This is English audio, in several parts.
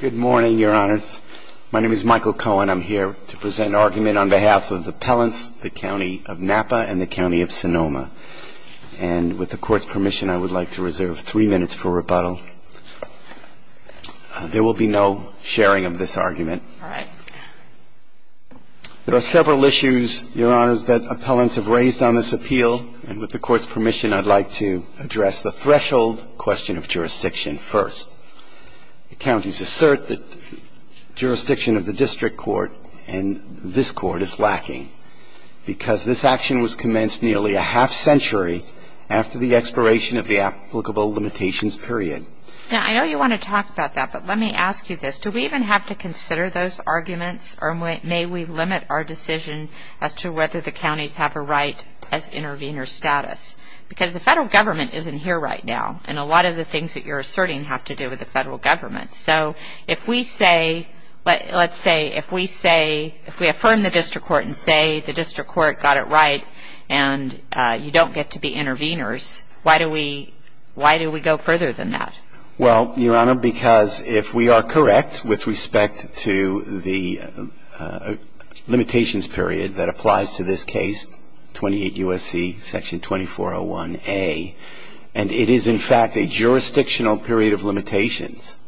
Good morning, Your Honors. My name is Michael Cohen. I'm here to present an argument on behalf of the appellants, the County of Napa and the County of Sonoma. And with the Court's permission, I would like to reserve three minutes for rebuttal. There will be no sharing of this argument. All right. There are several issues, Your Honors, that appellants have raised on this appeal, and with the Court's permission, I'd like to address the threshold question of jurisdiction first. Counties assert that jurisdiction of the District Court and this Court is lacking, because this action was commenced nearly a half century after the expiration of the applicable limitations period. Now, I know you want to talk about that, but let me ask you this. Do we even have to consider those arguments, or may we limit our decision as to whether the counties have a right as intervener status? Because the Federal Government isn't here right now, and a lot of the things that you're asserting have to do with the Federal Government. So if we say, let's say, if we say, if we affirm the District Court and say the District Court got it right and you don't get to be interveners, why do we go further than that? Well, Your Honor, because if we are correct with respect to the limitations period that applies to this case, 28 U.S.C. Section 2401A, and it is, in fact, a jurisdictional period of limitations,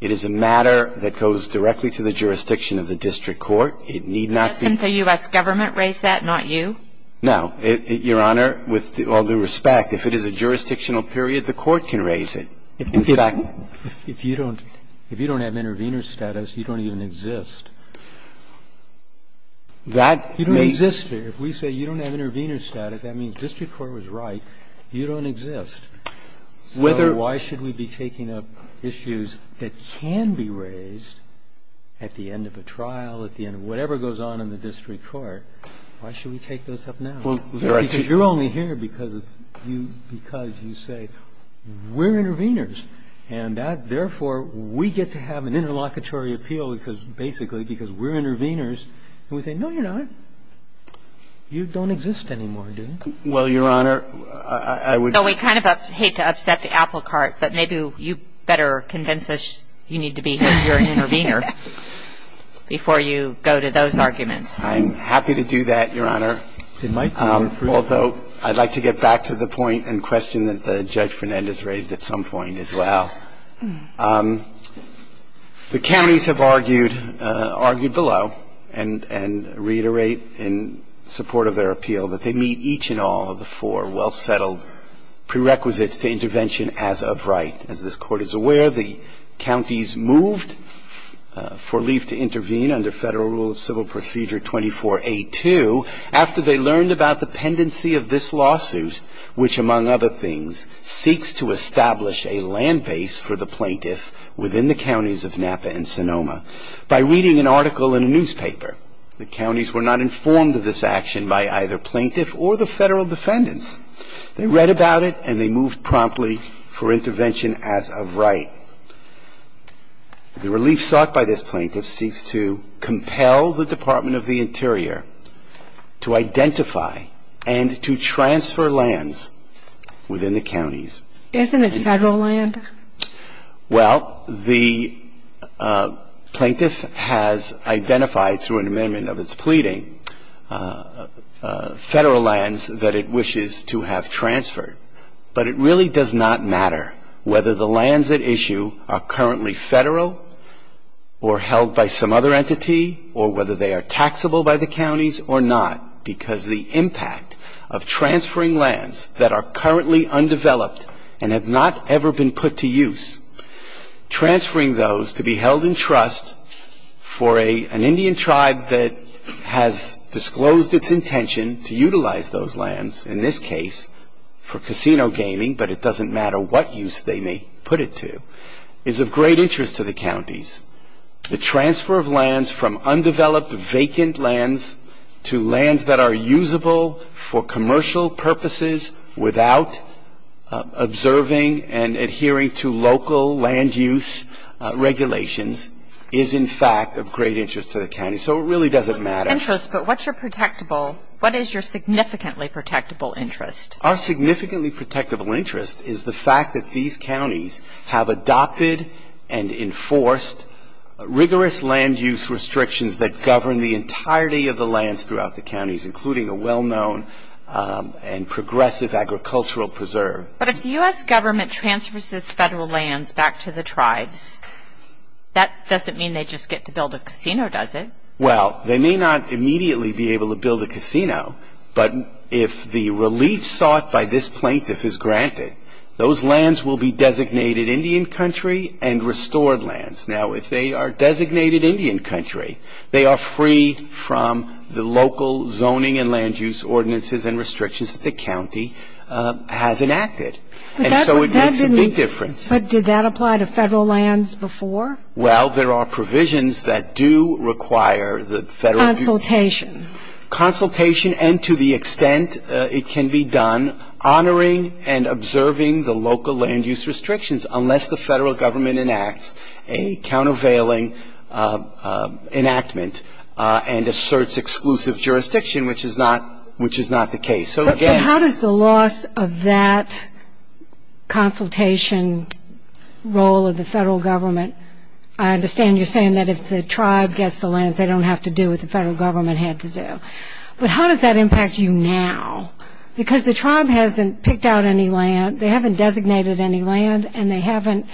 it is a matter that goes directly to the jurisdiction of the District Court. It need not be ---- Doesn't the U.S. Government raise that, not you? No. Your Honor, with all due respect, if it is a jurisdictional period, the Court can raise it. In fact ---- If you don't have intervener status, you don't even exist. That may ---- You don't exist here. If we say you don't have intervener status, that means District Court was right. You don't exist. So why should we be taking up issues that can be raised at the end of a trial, at the end of whatever goes on in the District Court? Why should we take those up now? Because you're only here because you say, we're interveners, and that, therefore, we get to have an interlocutory appeal because, basically, because we're interveners, and we say, no, you're not. You don't exist anymore, do you? Well, Your Honor, I would ---- So we kind of hate to upset the apple cart, but maybe you better convince us you need to be here and you're an intervener before you go to those arguments. I'm happy to do that, Your Honor, although I'd like to get back to the point and question that Judge Fernandez raised at some point as well. The counties have argued below and reiterate in support of their appeal that they meet each and all of the four well-settled prerequisites to intervention as of right. As this Court is aware, the counties moved for Leaf to intervene under Federal Rule of Civil Procedure 24A2 after they learned about the pendency of this lawsuit, which, among other things, seeks to establish a land base for the plaintiff within the counties of Napa and Sonoma. By reading an article in a newspaper, the counties were not informed of this action by either plaintiff or the Federal defendants. They read about it and they moved promptly for intervention as of right. The relief sought by this plaintiff seeks to compel the Department of the Interior to identify and to transfer lands within the counties. Isn't it Federal land? Well, the plaintiff has identified through an amendment of its pleading Federal lands that it wishes to have transferred. But it really does not matter whether the lands at issue are currently Federal or held by some other entity or whether they are taxable by the counties or not, because the impact of transferring lands that are currently undeveloped and have not ever been put to use, transferring those to be held in trust for an Indian tribe that has disclosed its intention to utilize those lands, in this case, for casino gaming, but it doesn't matter what use they may put it to, is of great interest to the counties. The transfer of lands from undeveloped, vacant lands to lands that are usable for commercial purposes without observing and adhering to local land use regulations is, in fact, of great interest to the counties. So it really doesn't matter. Interest, but what's your protectable, what is your significantly protectable interest? Our significantly protectable interest is the fact that these counties have adopted and enforced rigorous land use restrictions that govern the entirety of the lands throughout the counties, including a well-known and progressive agricultural preserve. But if the U.S. government transfers its federal lands back to the tribes, that doesn't mean they just get to build a casino, does it? Well, they may not immediately be able to build a casino, but if the relief sought by this plaintiff is granted, those lands will be designated Indian country and restored lands. Now, if they are designated Indian country, they are free from the local zoning and land use ordinances and restrictions that the county has enacted. And so it makes a big difference. But did that apply to federal lands before? Well, there are provisions that do require the federal union. Consultation. Consultation, and to the extent it can be done, honoring and observing the local land use restrictions, unless the federal government enacts a countervailing enactment and asserts exclusive jurisdiction, which is not the case. But how does the loss of that consultation role of the federal government, I understand you're saying that if the tribe gets the lands, they don't have to do what the federal government had to do. But how does that impact you now? Because the tribe hasn't picked out any land, they haven't designated any land, and they haven't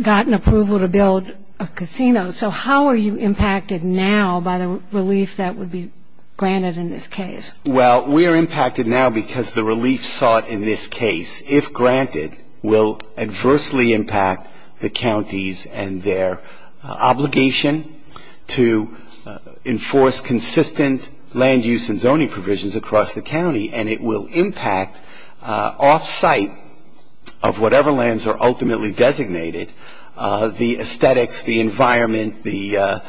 gotten approval to build a casino. So how are you impacted now by the relief that would be granted in this case? Well, we are impacted now because the relief sought in this case, if granted, will adversely impact the counties and their obligation to enforce consistent land use and zoning provisions across the county. And it will impact off-site of whatever lands are ultimately designated, the aesthetics, the environment, the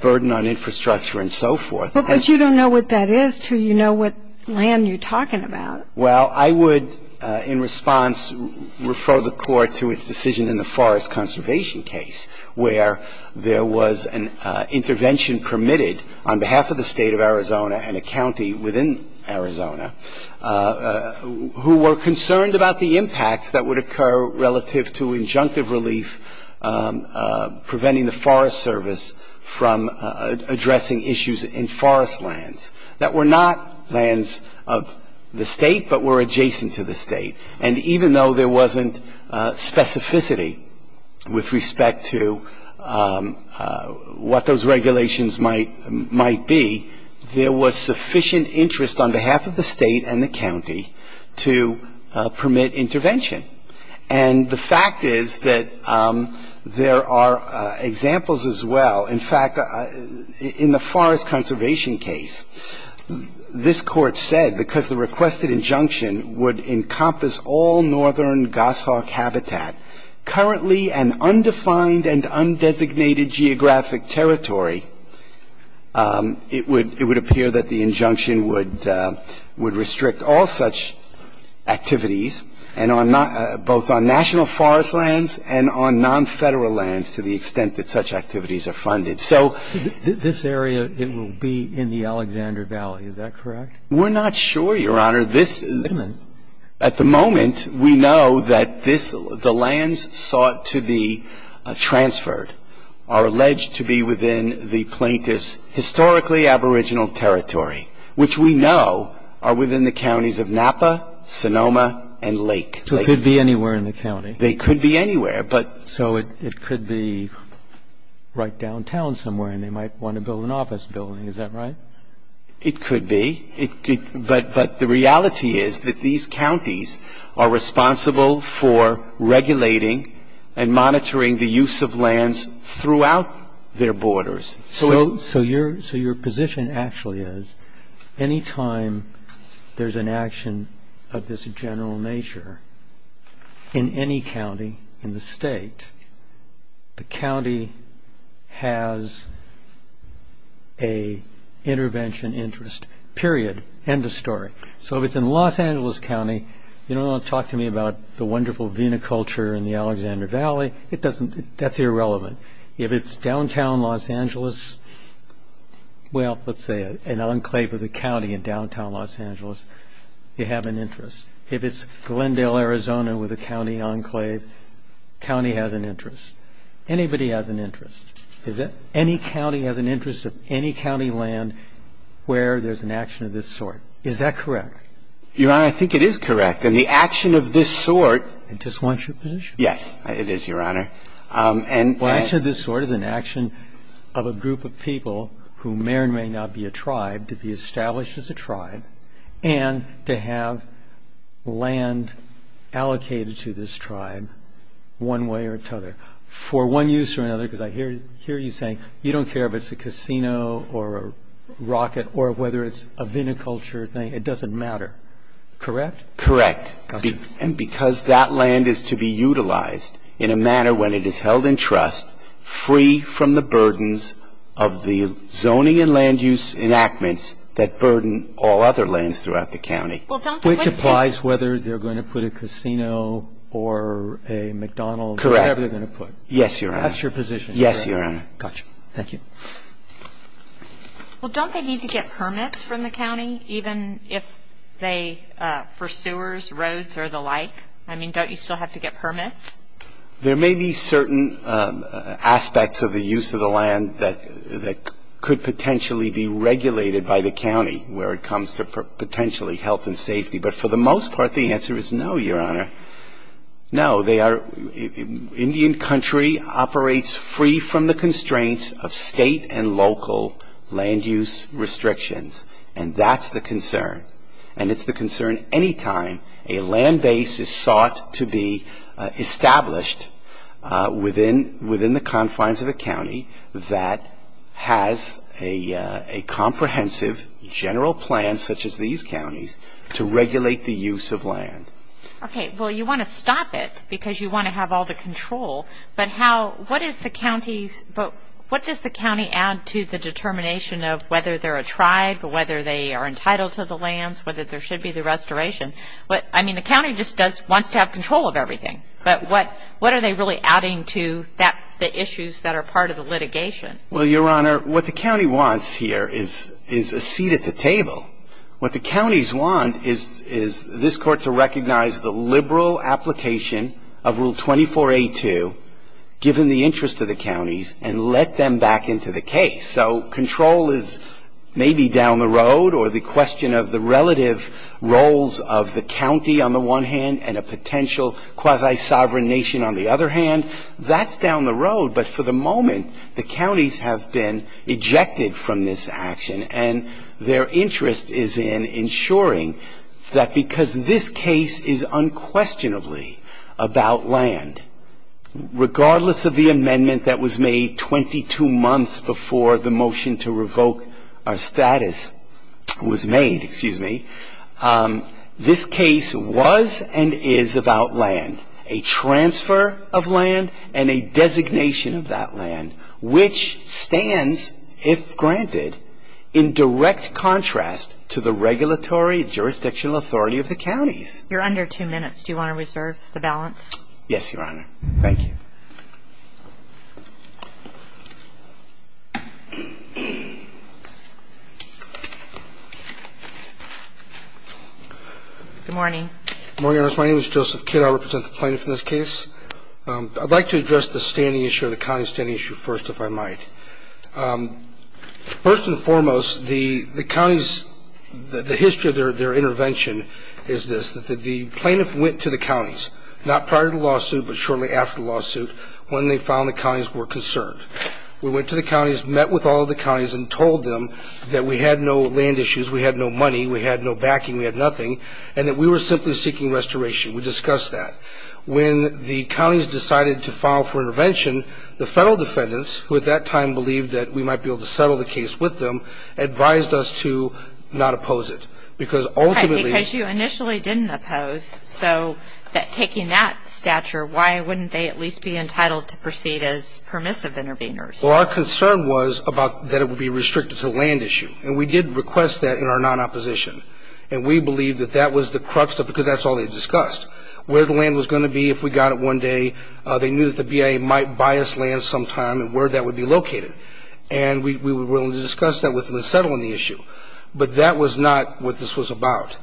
burden on infrastructure, and so forth. But you don't know what that is until you know what land you're talking about. Well, I would, in response, refer the Court to its decision in the forest conservation case, where there was an intervention permitted on behalf of the State of Arizona and a county within Arizona who were concerned about the impacts that would occur relative to injunctive relief, preventing the Forest Service from addressing issues in forest lands that were not lands of the State but were adjacent to the State. And even though there wasn't specificity with respect to what those regulations might be, there was sufficient interest on behalf of the State and the county to permit intervention. And the fact is that there are examples as well. In fact, in the forest conservation case, this Court said because the requested injunction would encompass all northern goshawk habitat, currently an undefined and undesignated geographic territory, it would appear that the injunction would restrict all such activities, both on national forest lands and on non-Federal lands to the extent that such activities are funded. So this area, it will be in the Alexander Valley. Is that correct? We're not sure, Your Honor. At the moment, we know that this, the lands sought to be transferred are alleged to be within the plaintiff's historically aboriginal territory, which we know are within the counties of Napa, Sonoma, and Lake. So it could be anywhere in the county. They could be anywhere. So it could be right downtown somewhere, and they might want to build an office building. Is that right? It could be. But the reality is that these counties are responsible for regulating and monitoring the use of lands throughout their borders. So your position actually is any time there's an action of this general nature in any county in the state, the county has an intervention interest, period, end of story. So if it's in Los Angeles County, you don't want to talk to me about the wonderful viniculture in the Alexander Valley. That's irrelevant. If it's downtown Los Angeles, well, let's say an enclave of the county in downtown Los Angeles, you have an interest. If it's Glendale, Arizona, with a county enclave, county has an interest. Anybody has an interest. Any county has an interest of any county land where there's an action of this sort. Is that correct? Your Honor, I think it is correct. And the action of this sort. It just wants your position. Yes, it is, Your Honor. Well, action of this sort is an action of a group of people who may or may not be a tribe to be established as a tribe and to have land allocated to this tribe one way or another. For one use or another, because I hear you saying you don't care if it's a casino or a rocket or whether it's a viniculture thing. It doesn't matter. Correct? Correct. And because that land is to be utilized in a manner when it is held in trust, free from the burdens of the zoning and land use enactments that burden all other lands throughout the county. Which applies whether they're going to put a casino or a McDonald's or whatever they're going to put. Yes, Your Honor. That's your position. Yes, Your Honor. Gotcha. Thank you. Well, don't they need to get permits from the county, even if they, for sewers, roads or the like? I mean, don't you still have to get permits? There may be certain aspects of the use of the land that could potentially be regulated by the county where it comes to potentially health and safety. But for the most part, the answer is no, Your Honor. No. Indian country operates free from the constraints of state and local land use restrictions. And that's the concern. And it's the concern any time a land base is sought to be established within the confines of a county that has a comprehensive general plan, such as these counties, to regulate the use of land. Okay. Well, you want to stop it because you want to have all the control. But what does the county add to the determination of whether they're a tribe, whether they are entitled to the lands, whether there should be the restoration? I mean, the county just wants to have control of everything. But what are they really adding to the issues that are part of the litigation? Well, Your Honor, what the county wants here is a seat at the table. What the counties want is this Court to recognize the liberal application of Rule 24a2, given the interest of the counties, and let them back into the case. So control is maybe down the road, or the question of the relative roles of the county on the one hand and a potential quasi-sovereign nation on the other hand, that's down the road. But for the moment, the counties have been ejected from this action. And their interest is in ensuring that because this case is unquestionably about land, regardless of the amendment that was made 22 months before the motion to revoke our status was made, this case was and is about land, a transfer of land and a designation of that land, which stands, if granted, in direct contrast to the regulatory jurisdictional authority of the counties. You're under two minutes. Do you want to reserve the balance? Yes, Your Honor. Thank you. Good morning. Good morning, Your Honor. My name is Joseph Kidd. I represent the plaintiff in this case. I'd like to address the standing issue or the county standing issue first, if I might. First and foremost, the counties, the history of their intervention is this, that the plaintiff went to the counties, not prior to the lawsuit, but shortly after the lawsuit when they found the counties were concerned. We went to the counties, met with all of the counties, and told them that we had no land issues, we had no money, we had no backing, we had nothing, and that we were simply seeking restoration. We discussed that. When the counties decided to file for intervention, the federal defendants, who at that time believed that we might be able to settle the case with them, advised us to not oppose it. Right, because you initially didn't oppose. So taking that stature, why wouldn't they at least be entitled to proceed as permissive interveners? Well, our concern was that it would be restricted to the land issue, and we did request that in our non-opposition. And we believe that that was the crux of it, because that's all they discussed, where the land was going to be if we got it one day. They knew that the BIA might buy us land sometime and where that would be located. And we were willing to discuss that with them and settle on the issue. But that was not what this was about.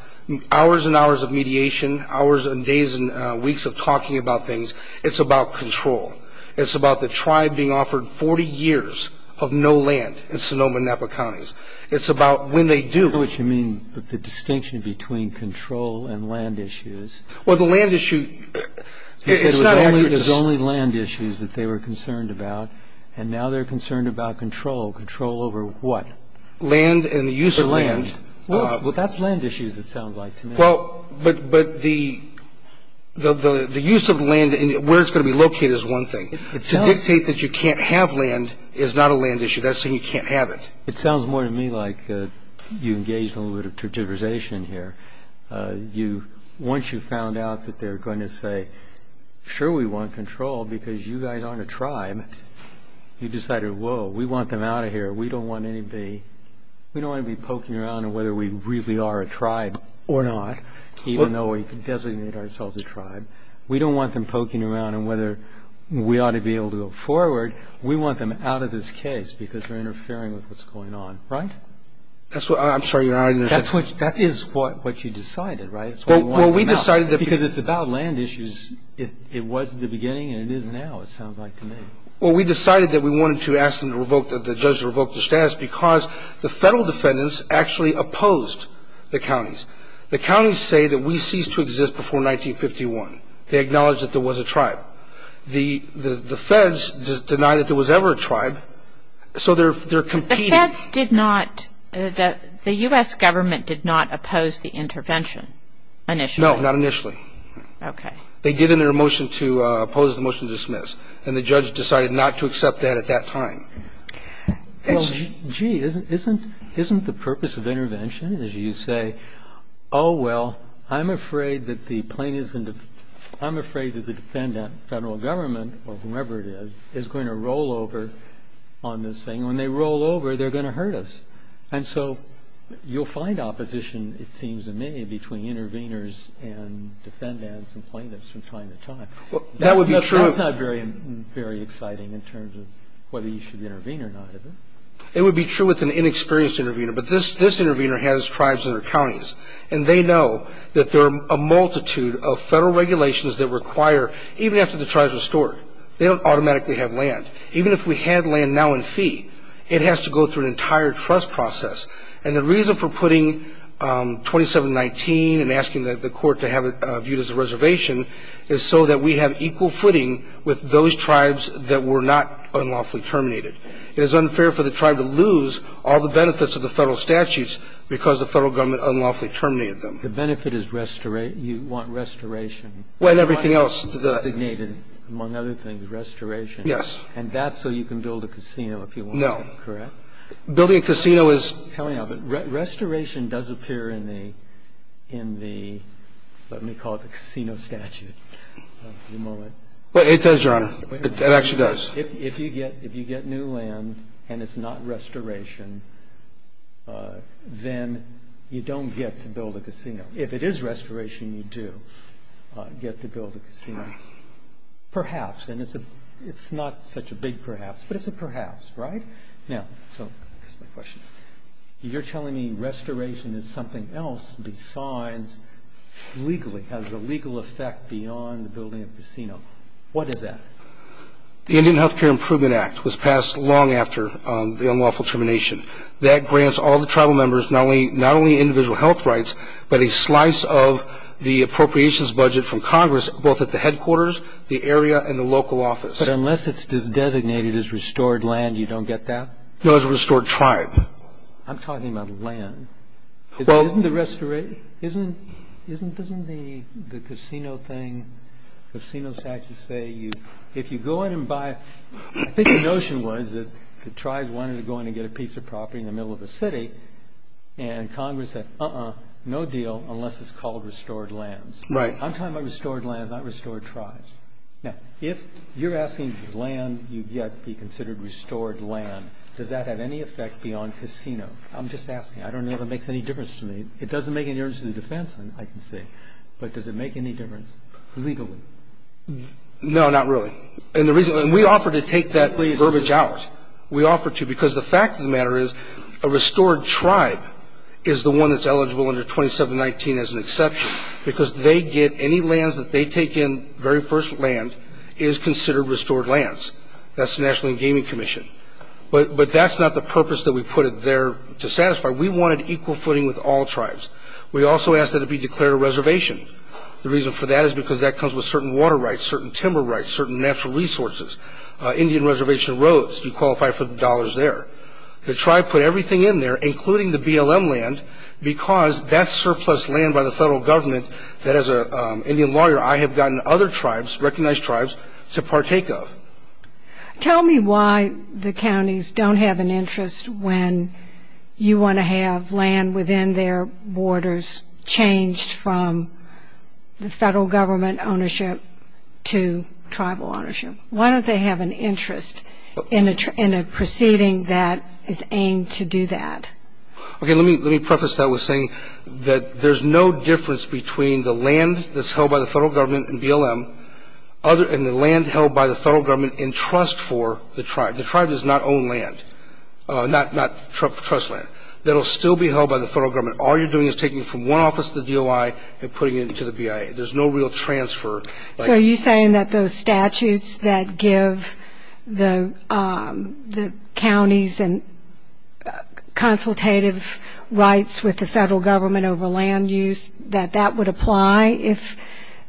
Hours and hours of mediation, hours and days and weeks of talking about things, it's about control. It's about the tribe being offered 40 years of no land in Sonoma and Napa counties. It's about when they do. I don't know what you mean with the distinction between control and land issues. Well, the land issue, it's not accurate. There's only land issues that they were concerned about, and now they're concerned about control, control over what? Land and the use of land. Well, that's land issues it sounds like to me. Well, but the use of land and where it's going to be located is one thing. To dictate that you can't have land is not a land issue. That's saying you can't have it. It sounds more to me like you engaged in a little bit of turgidization here. Once you found out that they're going to say, sure, we want control because you guys aren't a tribe, you decided, whoa, we want them out of here. We don't want to be poking around on whether we really are a tribe or not, even though we can designate ourselves a tribe. We don't want them poking around on whether we ought to be able to go forward. We want them out of this case because we're interfering with what's going on, right? I'm sorry, you're not interfering. That is what you decided, right? Well, we decided that because it's about land issues, it was at the beginning and it is now, it sounds like to me. Well, we decided that we wanted to ask the judge to revoke the status because the federal defendants actually opposed the counties. The counties say that we ceased to exist before 1951. They acknowledged that there was a tribe. The feds deny that there was ever a tribe, so they're competing. The feds did not, the U.S. government did not oppose the intervention initially? No, not initially. Okay. They did in their motion to oppose the motion to dismiss, and the judge decided not to accept that at that time. Well, gee, isn't the purpose of intervention, as you say, Oh, well, I'm afraid that the defendant, federal government, or whomever it is, is going to roll over on this thing. When they roll over, they're going to hurt us. And so you'll find opposition, it seems to me, between interveners and defendants and plaintiffs from time to time. That would be true. That's not very exciting in terms of whether you should intervene or not, is it? It would be true with an inexperienced intervener. But this intervener has tribes in their counties, and they know that there are a multitude of federal regulations that require, even after the tribe is restored, they don't automatically have land. Even if we had land now in fee, it has to go through an entire trust process. And the reason for putting 2719 and asking the court to have it viewed as a reservation is so that we have equal footing with those tribes that were not unlawfully terminated. It is unfair for the tribe to lose all the benefits of the federal statutes because the federal government unlawfully terminated them. The benefit is restoration. You want restoration. Well, and everything else. Among other things, restoration. Yes. And that's so you can build a casino if you want to, correct? No. Building a casino is. Restoration does appear in the, in the, let me call it the casino statute. It does, Your Honor. It actually does. If you get, if you get new land and it's not restoration, then you don't get to build a casino. If it is restoration, you do get to build a casino. Perhaps. And it's a, it's not such a big perhaps, but it's a perhaps, right? Now, so, here's my question. You're telling me restoration is something else besides legally, has a legal effect beyond building a casino. What is that? The Indian Health Care Improvement Act was passed long after the unlawful termination. That grants all the tribal members not only, not only individual health rights, but a slice of the appropriations budget from Congress, both at the headquarters, the area, and the local office. But unless it's designated as restored land, you don't get that? No, it's a restored tribe. I'm talking about land. Well. Isn't the restoration, isn't, isn't, doesn't the casino thing, casino statutes say you, if you go in and buy, I think the notion was that the tribes wanted to go in and get a piece of property in the middle of the city, and Congress said, uh-uh, no deal, unless it's called restored lands. Right. I'm talking about restored lands, not restored tribes. Now, if you're asking land, you get to be considered restored land. Does that have any effect beyond casino? I'm just asking. I don't know if it makes any difference to me. It doesn't make any difference to the defense, I can say. But does it make any difference? Legally. No, not really. And the reason, and we offer to take that verbiage out. We offer to, because the fact of the matter is, a restored tribe is the one that's eligible under 2719 as an exception, because they get any lands that they take in, the very first land is considered restored lands. That's the National Gaming Commission. But that's not the purpose that we put it there to satisfy. We wanted equal footing with all tribes. We also asked that it be declared a reservation. The reason for that is because that comes with certain water rights, certain timber rights, certain natural resources, Indian reservation roads. You qualify for the dollars there. The tribe put everything in there, including the BLM land, because that's surplus land by the federal government that, as an Indian lawyer, I have gotten other tribes, recognized tribes, to partake of. Tell me why the counties don't have an interest when you want to have land within their borders changed from the federal government ownership to tribal ownership. Why don't they have an interest in a proceeding that is aimed to do that? Okay, let me preface that with saying that there's no difference between the land that's held by the federal government and BLM and the land held by the federal government in trust for the tribe. The tribe does not own land, not trust land. That will still be held by the federal government. All you're doing is taking it from one office to the DOI and putting it into the BIA. There's no real transfer. So are you saying that those statutes that give the counties consultative rights with the federal government over land use, that that would apply if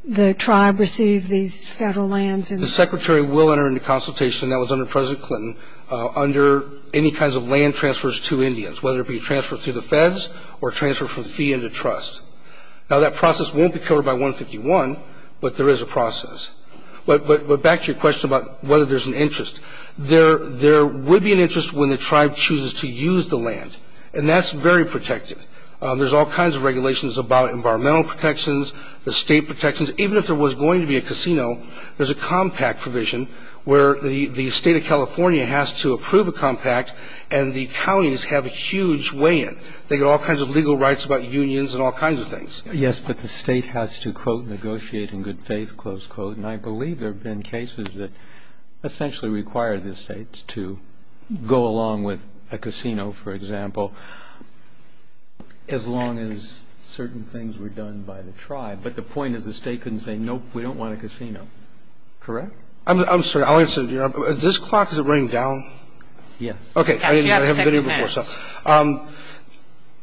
the tribe received these federal lands? The secretary will enter into consultation, that was under President Clinton, under any kinds of land transfers to Indians, whether it be transferred through the feds or transferred from fee into trust. Now, that process won't be covered by 151, but there is a process. But back to your question about whether there's an interest. There would be an interest when the tribe chooses to use the land, and that's very protective. There's all kinds of regulations about environmental protections, the state protections. Even if there was going to be a casino, there's a compact provision where the state of California has to approve a compact and the counties have a huge weigh-in. They get all kinds of legal rights about unions and all kinds of things. Yes, but the state has to, quote, negotiate in good faith, close quote. And I believe there have been cases that essentially require the states to go along with a casino, for example, as long as certain things were done by the tribe. But the point is the state couldn't say, nope, we don't want a casino. Correct? I'm sorry. This clock, is it running down? Yes. Okay. I haven't been here before, so.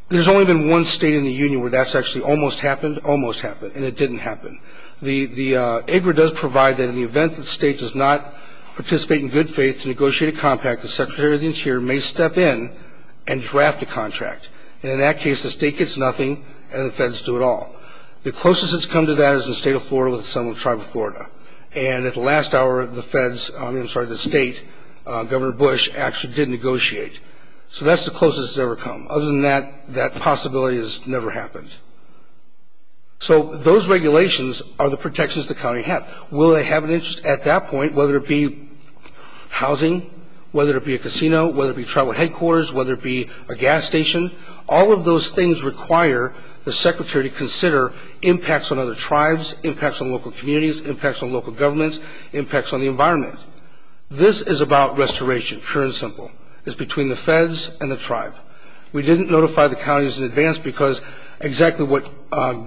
There's only been one state in the union where that's actually almost happened, almost happened, and it didn't happen. The IGRA does provide that in the event that the state does not participate in good faith to negotiate a compact, the Secretary of the Interior may step in and draft a contract. And in that case, the state gets nothing and the feds do it all. The closest it's come to that is in the state of Florida with some of the tribe of Florida. And at the last hour, the feds, I'm sorry, the state, Governor Bush, actually did negotiate. So that's the closest it's ever come. Other than that, that possibility has never happened. So those regulations are the protections the county has. Will they have an interest at that point, whether it be housing, whether it be a casino, whether it be tribal headquarters, whether it be a gas station? All of those things require the secretary to consider impacts on other tribes, impacts on local communities, impacts on local governments, impacts on the environment. This is about restoration, pure and simple. It's between the feds and the tribe. We didn't notify the counties in advance because exactly what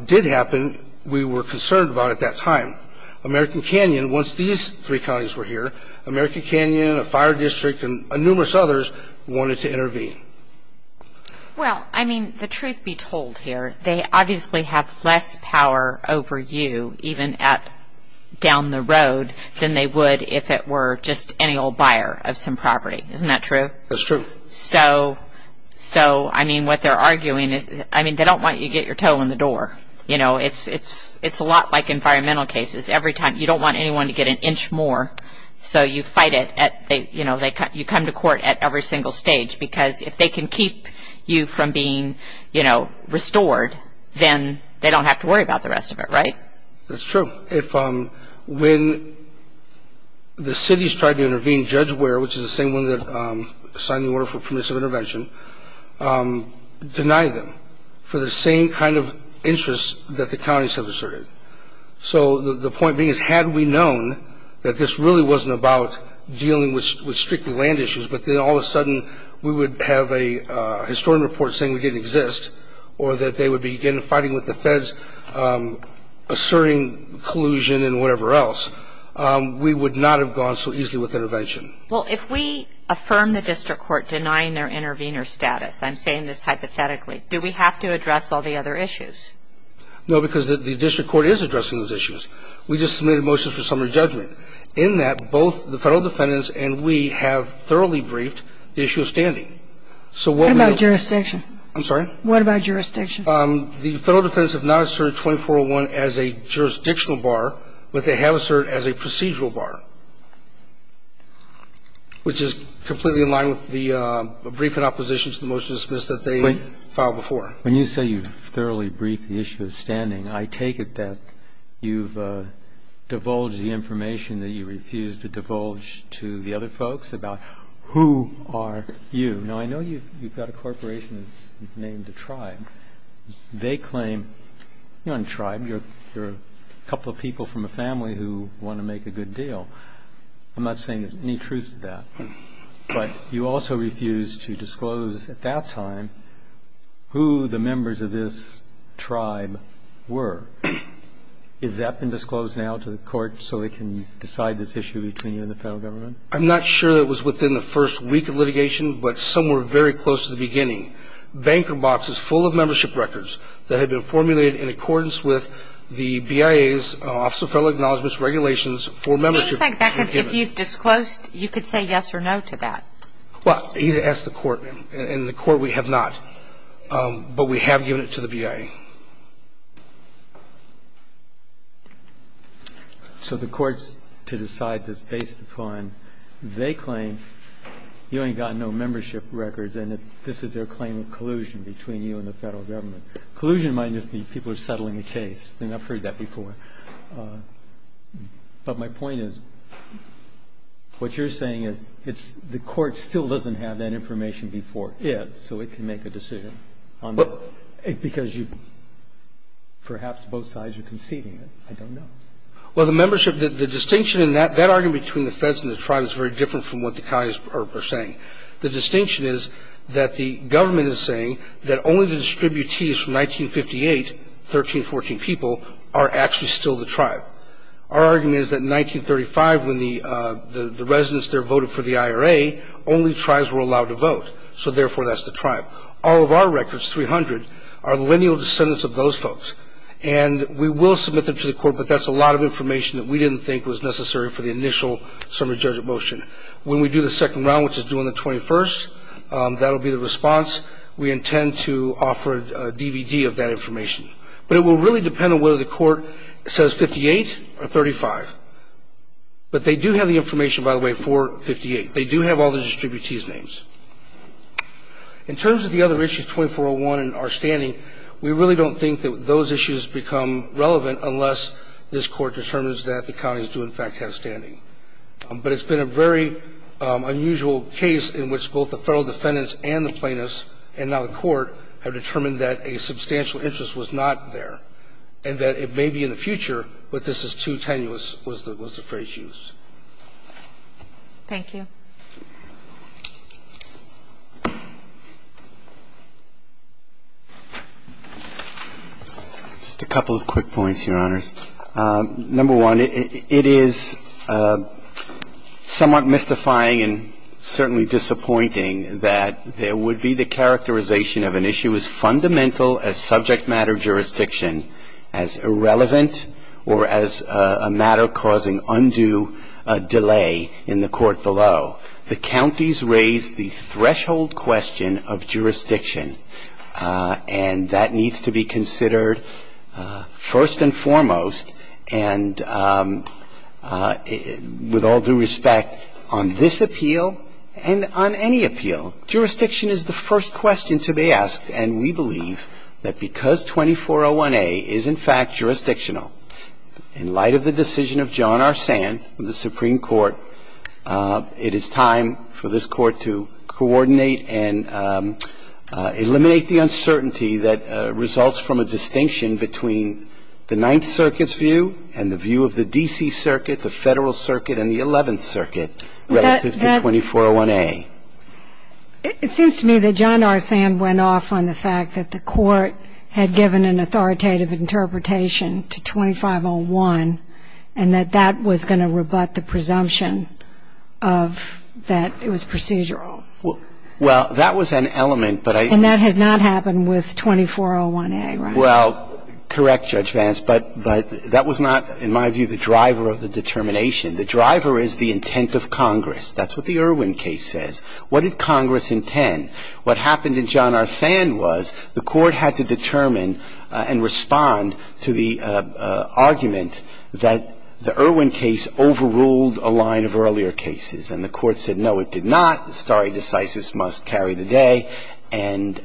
did happen we were concerned about at that time. American Canyon, once these three counties were here, American Canyon, a fire district, and numerous others wanted to intervene. Well, I mean, the truth be told here, they obviously have less power over you, even down the road, than they would if it were just any old buyer of some property. Isn't that true? That's true. So, I mean, what they're arguing, I mean, they don't want you to get your toe in the door. You know, it's a lot like environmental cases. Every time you don't want anyone to get an inch more, so you fight it. You come to court at every single stage because if they can keep you from being, you know, restored, then they don't have to worry about the rest of it, right? That's true. When the cities tried to intervene, Judge Ware, which is the same one that signed the order for permissive intervention, denied them for the same kind of interests that the counties have asserted. So the point being is had we known that this really wasn't about dealing with strictly land issues, but then all of a sudden we would have a historian report saying we didn't exist or that they would begin fighting with the feds, asserting collusion and whatever else, we would not have gone so easily with intervention. Well, if we affirm the district court denying their intervener status, I'm saying this hypothetically, do we have to address all the other issues? No, because the district court is addressing those issues. We just submitted motions for summary judgment. In that, both the Federal defendants and we have thoroughly briefed the issue of standing. So what we have to do is assert 2401. What about jurisdiction? I'm sorry? What about jurisdiction? The Federal defendants have not asserted 2401 as a jurisdictional bar, but they have asserted as a procedural bar, which is completely in line with the briefing opposition to the motions that they filed before. When you say you've thoroughly briefed the issue of standing, I take it that you've divulged the information that you refused to divulge to the other folks about who are you. Now, I know you've got a corporation that's named a tribe. They claim, you're not a tribe, you're a couple of people from a family who want to make a good deal. I'm not saying there's any truth to that. But you also refused to disclose at that time who the members of this tribe were. Has that been disclosed now to the court so they can decide this issue between you and the Federal Government? I'm not sure that it was within the first week of litigation, but somewhere very close to the beginning. Banker boxes full of membership records that had been formulated in accordance with the BIA's, Office of Federal Acknowledgements, regulations for membership. So you're saying, if you disclosed, you could say yes or no to that? Well, you'd ask the court. And the court, we have not. But we have given it to the BIA. So the courts, to decide this based upon they claim you ain't got no membership records and this is their claim of collusion between you and the Federal Government. Collusion might just mean people are settling the case. They've not heard that before. But my point is, what you're saying is, it's the court still doesn't have that information before it, so it can make a decision. Because you, perhaps both sides are conceding it. I don't know. Well, the membership, the distinction in that, that argument between the feds and the tribe is very different from what the counties are saying. The distinction is that the government is saying that only the distributees from 1958, 13, 14 people, are actually still the tribe. Our argument is that in 1935, when the residents there voted for the IRA, only tribes were allowed to vote. So, therefore, that's the tribe. All of our records, 300, are lineal descendants of those folks. And we will submit them to the court, but that's a lot of information that we didn't think was necessary for the initial summary judgment motion. When we do the second round, which is due on the 21st, that will be the response. We intend to offer a DVD of that information. But it will really depend on whether the court says 58 or 35. But they do have the information, by the way, for 58. They do have all the distributee's names. In terms of the other issues, 2401 and our standing, we really don't think that those issues become relevant unless this Court determines that the counties do, in fact, have standing. But it's been a very unusual case in which both the Federal defendants and the plaintiffs and now the Court have determined that a substantial interest was not there and that it may be in the future, but this is too tenuous, was the phrase used. Thank you. Just a couple of quick points, Your Honors. Number one, it is somewhat mystifying and certainly disappointing that there would be the characterization of an issue as fundamental as subject matter jurisdiction as irrelevant or as a matter causing undue delay in the court below. The counties raise the threshold question of jurisdiction, and that needs to be considered first and foremost, and with all due respect, on this appeal and on any appeal. Jurisdiction is the first question to be asked, and we believe that because 2401A is, in fact, jurisdictional, in light of the decision of John R. Sand of the Supreme Court, it is time for this Court to coordinate and eliminate the uncertainty that results from a distinction between the Ninth Circuit's view and the view of the D.C. Circuit, the Federal Circuit, and the Eleventh Circuit relative to 2401A. It seems to me that John R. Sand went off on the fact that the Court had given an authoritative interpretation to 2501 and that that was going to rebut the presumption of that it was procedural. Well, that was an element, but I don't know. It did not happen with 2401A, right? Well, correct, Judge Vance, but that was not, in my view, the driver of the determination. The driver is the intent of Congress. That's what the Irwin case says. What did Congress intend? What happened in John R. Sand was the Court had to determine and respond to the argument that the Irwin case overruled a line of earlier cases, and the Court said, no, it did and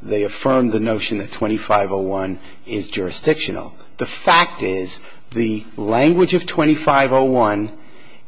they affirmed the notion that 2501 is jurisdictional. The fact is the language of 2501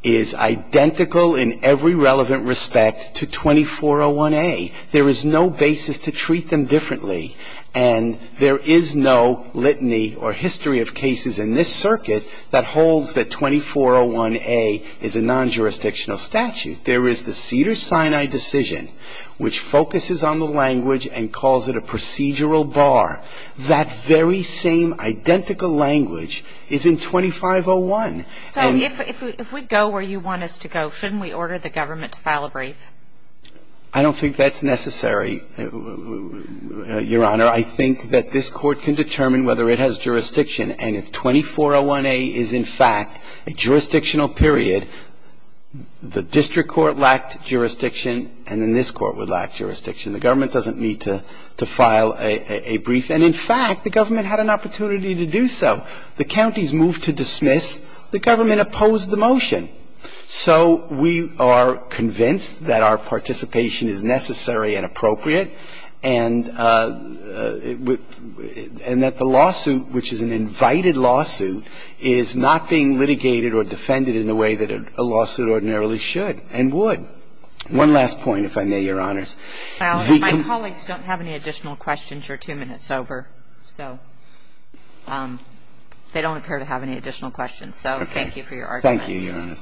is identical in every relevant respect to 2401A. There is no basis to treat them differently, and there is no litany or history of cases in this Circuit that holds that 2401A is a non-jurisdictional statute. There is the Cedars-Sinai decision, which focuses on the language and calls it a procedural bar. That very same identical language is in 2501. So if we go where you want us to go, shouldn't we order the government to file a brief? I don't think that's necessary, Your Honor. I think that this Court can determine whether it has jurisdiction, and if 2401A is in fact a jurisdictional period, the district court lacked jurisdiction and then this Court would lack jurisdiction. The government doesn't need to file a brief. And in fact, the government had an opportunity to do so. The counties moved to dismiss. The government opposed the motion. So we are convinced that our participation is necessary and appropriate and that the righted lawsuit is not being litigated or defended in the way that a lawsuit ordinarily should and would. One last point, if I may, Your Honors. My colleagues don't have any additional questions. You're two minutes over. So they don't appear to have any additional questions. So thank you for your argument. Thank you, Your Honor.